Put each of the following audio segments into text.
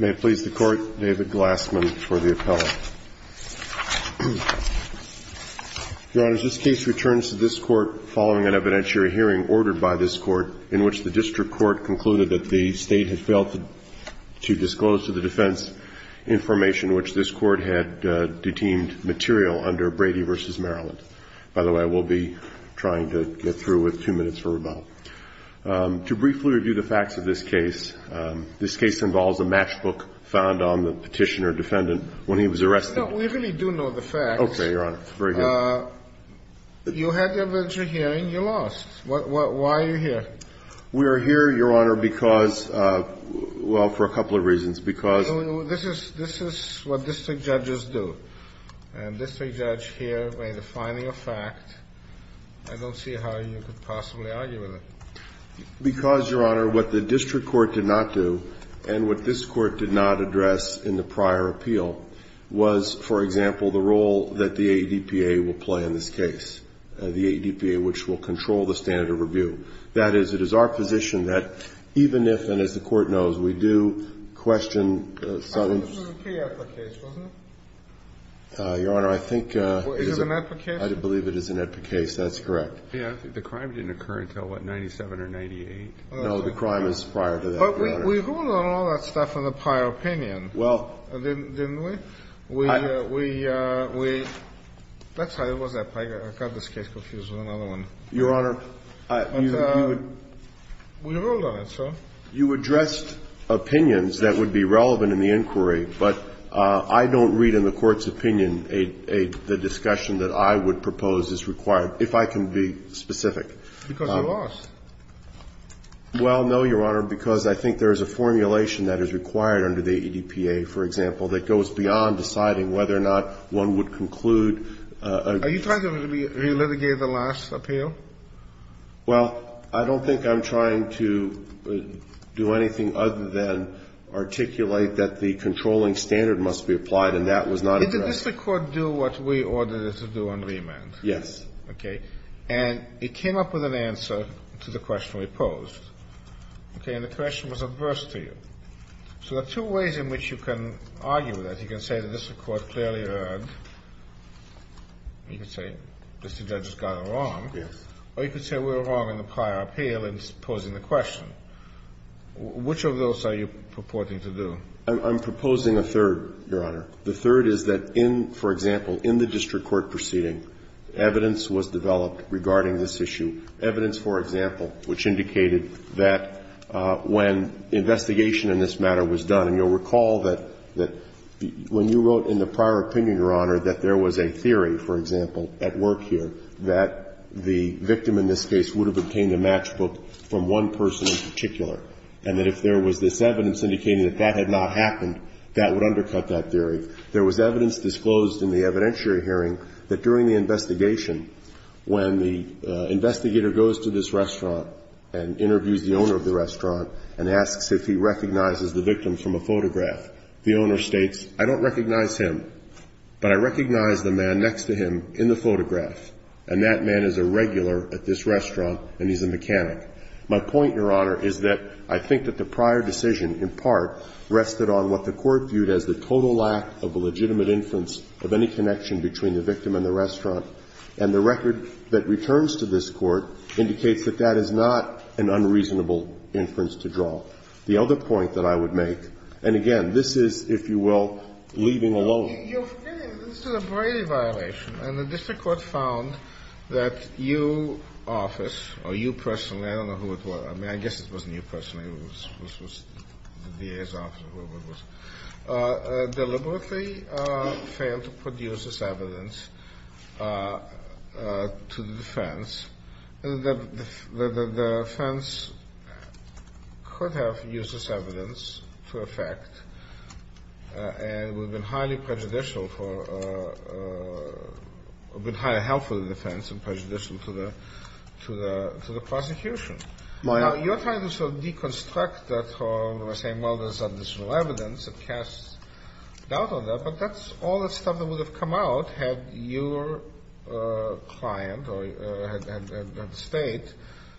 May it please the Court, David Glassman for the appellate. Your Honors, this case returns to this Court following an evidentiary hearing ordered by this Court in which the District Court concluded that the State had failed to disclose to the defense information which this Court had deteemed material under Brady v. Maryland. By the way, we'll be trying to get through with two minutes from now. To briefly review the facts of this case, this case involves a matchbook found on the petitioner defendant when he was arrested. No, we really do know the facts. Okay, Your Honor. It's very good. You had the evidentiary hearing. You lost. Why are you here? We are here, Your Honor, because, well, for a couple of reasons. No, no, this is what district judges do. A district judge here may be finding a fact. I don't see how you could possibly argue with it. Because, Your Honor, what the District Court did not do and what this Court did not address in the prior appeal was, for example, the role that the ADPA will play in this case, the ADPA, which will control the standard of review. That is, it is our position that even if, and as the Court knows, we do question some of the ---- I thought this was an ADPA case, wasn't it? Your Honor, I think it is. Is it an ADPA case? I believe it is an ADPA case. That's correct. Yeah, I think the crime didn't occur until, what, 97 or 98. No, the crime is prior to that, Your Honor. But we ruled on all that stuff in the prior opinion. Well ---- Didn't we? We, we, we, that's how it was at prior. I got this case confused with another one. Your Honor, I, you, you would ---- We ruled on it, sir. You addressed opinions that would be relevant in the inquiry, but I don't read in the Court's opinion a, a, the discussion that I would propose is required, if I can be specific. Because you lost. Well, no, Your Honor, because I think there is a formulation that is required under the ADPA, for example, that goes beyond deciding whether or not one would conclude a ---- Well, I don't think I'm trying to do anything other than articulate that the controlling standard must be applied, and that was not addressed. Did the district court do what we ordered it to do on remand? Yes. Okay. And it came up with an answer to the question we posed. Okay. And the question was adverse to you. So there are two ways in which you can argue that. You can say that the district court clearly heard. You can say the district judge has gone wrong. Yes. Or you can say we were wrong in the prior appeal in posing the question. Which of those are you purporting to do? I'm proposing a third, Your Honor. The third is that in, for example, in the district court proceeding, evidence was developed regarding this issue, evidence, for example, which indicated that when investigation in this matter was done, and you'll recall that when you wrote in the prior opinion, Your Honor, that there was a theory, for example, at work here, that the victim in this case would have obtained a matchbook from one person in particular, and that if there was this evidence indicating that that had not happened, that would undercut that theory. There was evidence disclosed in the evidentiary hearing that during the investigation, when the investigator goes to this restaurant and interviews the owner of the restaurant and asks if he recognizes the victim from a photograph, the owner states, I don't recognize him, but I recognize the man next to him in the photograph, and that man is a regular at this restaurant and he's a mechanic. My point, Your Honor, is that I think that the prior decision in part rested on what the court viewed as the total lack of a legitimate inference of any connection between the victim and the restaurant. And the record that returns to this Court indicates that that is not an unreasonable inference to draw. The other point that I would make, and again, this is, if you will, leaving alone. This is a Brady violation, and the district court found that you, office, or you personally, I don't know who it was. I mean, I guess it wasn't you personally. It was the DA's office or whoever it was, deliberately failed to produce this evidence to the defense. The defense could have used this evidence to effect and would have been highly prejudicial for, would have been highly helpful to the defense and prejudicial to the prosecution. Now, you're trying to sort of deconstruct that, saying, well, there's additional evidence that casts doubt on that, but that's all the stuff that would have come out had your client or had the State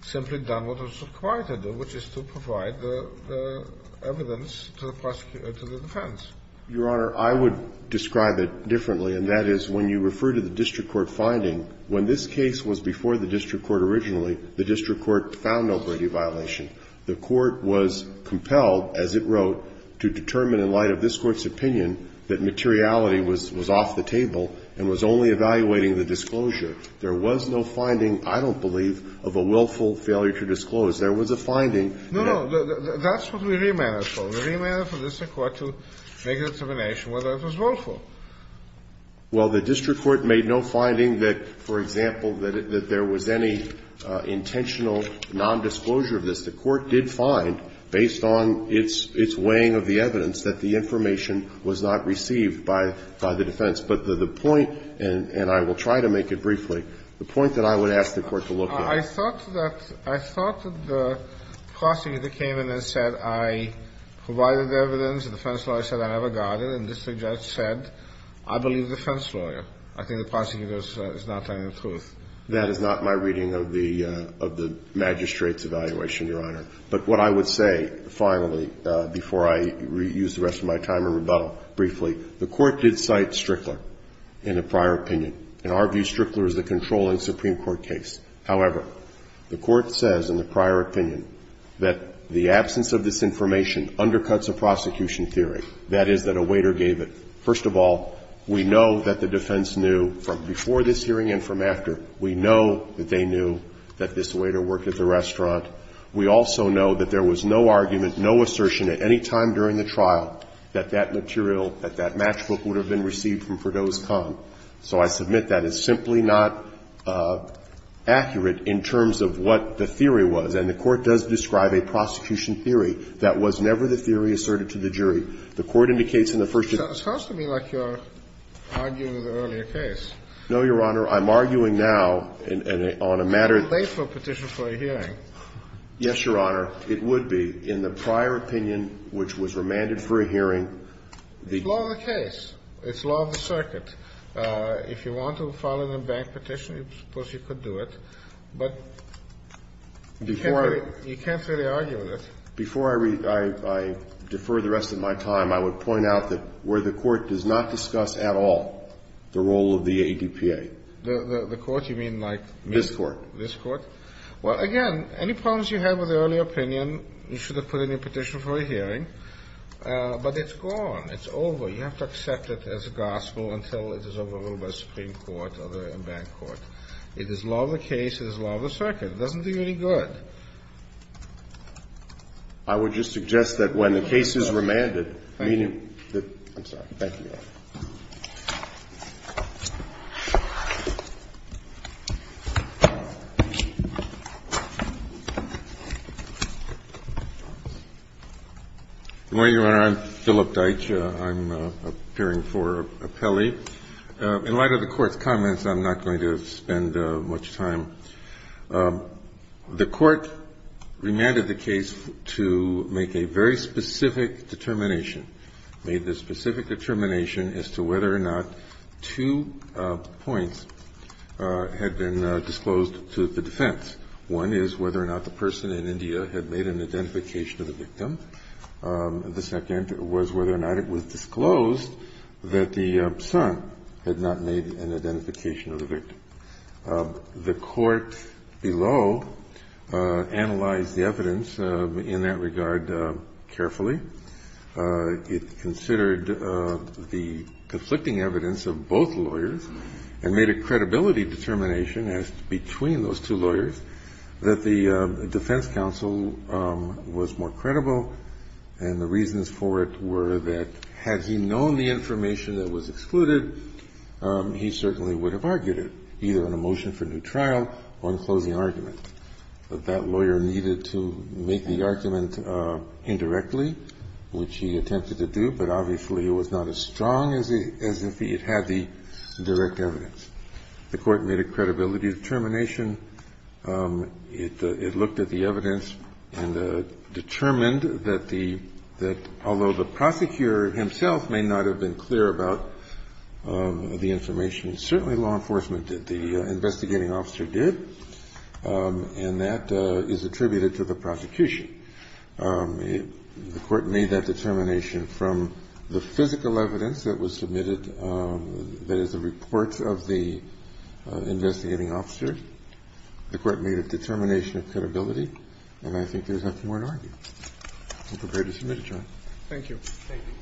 simply done what was required to do, which is to provide the evidence to the defense. Your Honor, I would describe it differently, and that is when you refer to the district court finding, when this case was before the district court originally, the district court found no Brady violation. The court was compelled, as it wrote, to determine, in light of this Court's opinion, that materiality was off the table and was only evaluating the disclosure. There was no finding, I don't believe, of a willful failure to disclose. There was a finding that the court found. No, no. That's what we remanded for. We remanded for the district court to make a determination whether it was willful. Well, the district court made no finding that, for example, that there was any intentional nondisclosure of this. The court did find, based on its weighing of the evidence, that the information was not received by the defense. But the point, and I will try to make it briefly, the point that I would ask the court to look at. I thought that the prosecutor came in and said, I provided the evidence. The defense lawyer said I never got it. And the district judge said, I believe the defense lawyer. I think the prosecutor is not telling the truth. That is not my reading of the magistrate's evaluation, Your Honor. But what I would say, finally, before I use the rest of my time in rebuttal briefly, the court did cite Strickler in a prior opinion. In our view, Strickler is the controlling Supreme Court case. However, the court says in the prior opinion that the absence of this information undercuts a prosecution theory, that is, that a waiter gave it. First of all, we know that the defense knew from before this hearing and from after, we know that they knew that this waiter worked at the restaurant. We also know that there was no argument, no assertion at any time during the trial that that material, that that matchbook would have been received from Perdoe's Con. So I submit that is simply not accurate in terms of what the theory was. And the court does describe a prosecution theory that was never the theory asserted to the jury. The court indicates in the first instance. It sounds to me like you're arguing the earlier case. No, Your Honor. I'm arguing now on a matter. It's too late for a petition for a hearing. Yes, Your Honor. It would be. In the prior opinion, which was remanded for a hearing, the. It's law of the case. It's law of the circuit. If you want to file it in a bank petition, I suppose you could do it. But you can't really argue with it. Before I defer the rest of my time, I would point out that where the court does not discuss at all the role of the ADPA. The court you mean like. This court. This court. Well, again, any problems you have with the earlier opinion, you should have put in a petition for a hearing. But it's gone. It's over. You have to accept it as a gospel until it is over with the Supreme Court or the bank court. It is law of the case. It is law of the circuit. It doesn't do you any good. I would just suggest that when the case is remanded, meaning that. I'm sorry. Thank you, Your Honor. Good morning, Your Honor. I'm Philip Deitch. I'm appearing for appellee. In light of the Court's comments, I'm not going to spend much time. The court remanded the case to make a very specific determination, made the specific determination as to whether or not two points had been disclosed to the defense. One is whether or not the person in India had made an identification of the victim. The second was whether or not it was disclosed that the son had not made an identification of the victim. The court below analyzed the evidence in that regard carefully. It considered the conflicting evidence of both lawyers and made a credibility determination as to between those two lawyers that the defense counsel was more credible and the reasons for it were that had he known the information that was excluded, he certainly would have argued it. Either in a motion for new trial or in closing argument. That lawyer needed to make the argument indirectly, which he attempted to do, but obviously it was not as strong as if he had the direct evidence. The court made a credibility determination. It looked at the evidence and determined that the – that although the prosecutor himself may not have been clear about the information, certainly law enforcement did, the investigating officer did, and that is attributed to the prosecution. The court made that determination from the physical evidence that was submitted, that is, the reports of the investigating officer. The court made a determination of credibility. And I think there's nothing more to argue. I'm prepared to submit it, Your Honor. Thank you. Thank you.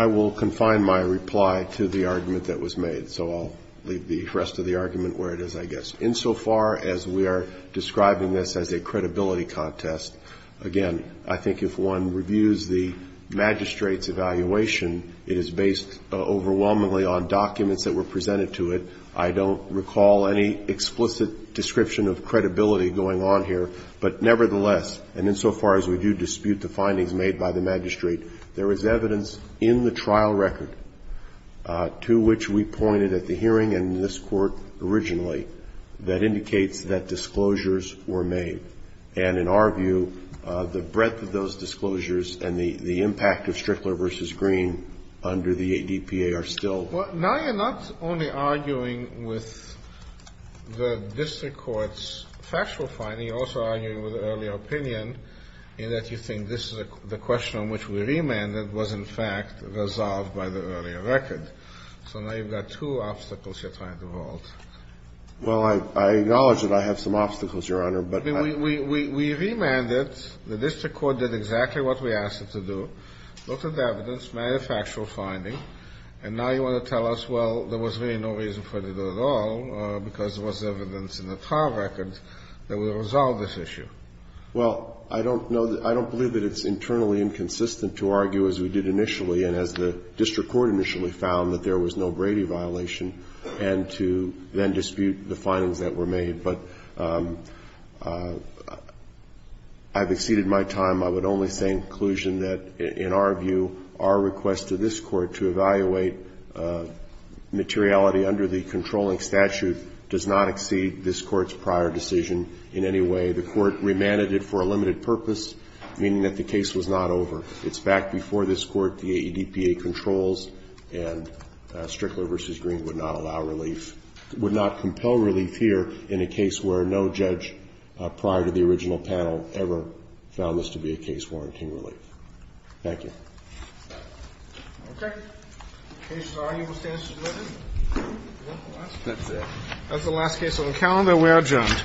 I will confine my reply to the argument that was made, so I'll leave the rest of the argument where it is, I guess. Insofar as we are describing this as a credibility contest, again, I think if one reviews the magistrate's evaluation, it is based overwhelmingly on documents that were presented to it. I don't recall any explicit description of credibility going on here. But nevertheless, and insofar as we do dispute the findings made by the magistrate, there is evidence in the trial record to which we pointed at the hearing in this court originally that indicates that disclosures were made. And in our view, the breadth of those disclosures and the impact of Strickler v. Green under the ADPA are still – So you're arguing with the district court's factual finding. You're also arguing with earlier opinion in that you think this is the question on which we remanded was, in fact, resolved by the earlier record. So now you've got two obstacles you're trying to vault. Well, I acknowledge that I have some obstacles, Your Honor, but I – I mean, we remanded. The district court did exactly what we asked it to do, looked at the evidence, made a factual finding. And now you want to tell us, well, there was really no reason for it at all because there was evidence in the trial record that would resolve this issue. Well, I don't know that – I don't believe that it's internally inconsistent to argue, as we did initially and as the district court initially found, that there was no Brady violation, and to then dispute the findings that were made. But I've exceeded my time. I would only say, in conclusion, that in our view, our request to this Court to evaluate materiality under the controlling statute does not exceed this Court's prior decision in any way. The Court remanded it for a limited purpose, meaning that the case was not over. It's back before this Court, the AEDPA controls, and Strickler v. Green would not allow relief – would not compel relief here in a case where no judge prior to the case warranted relief. Thank you. Okay. In the case of the arguable standard of living. That's it. That's the last case on the calendar. We are adjourned.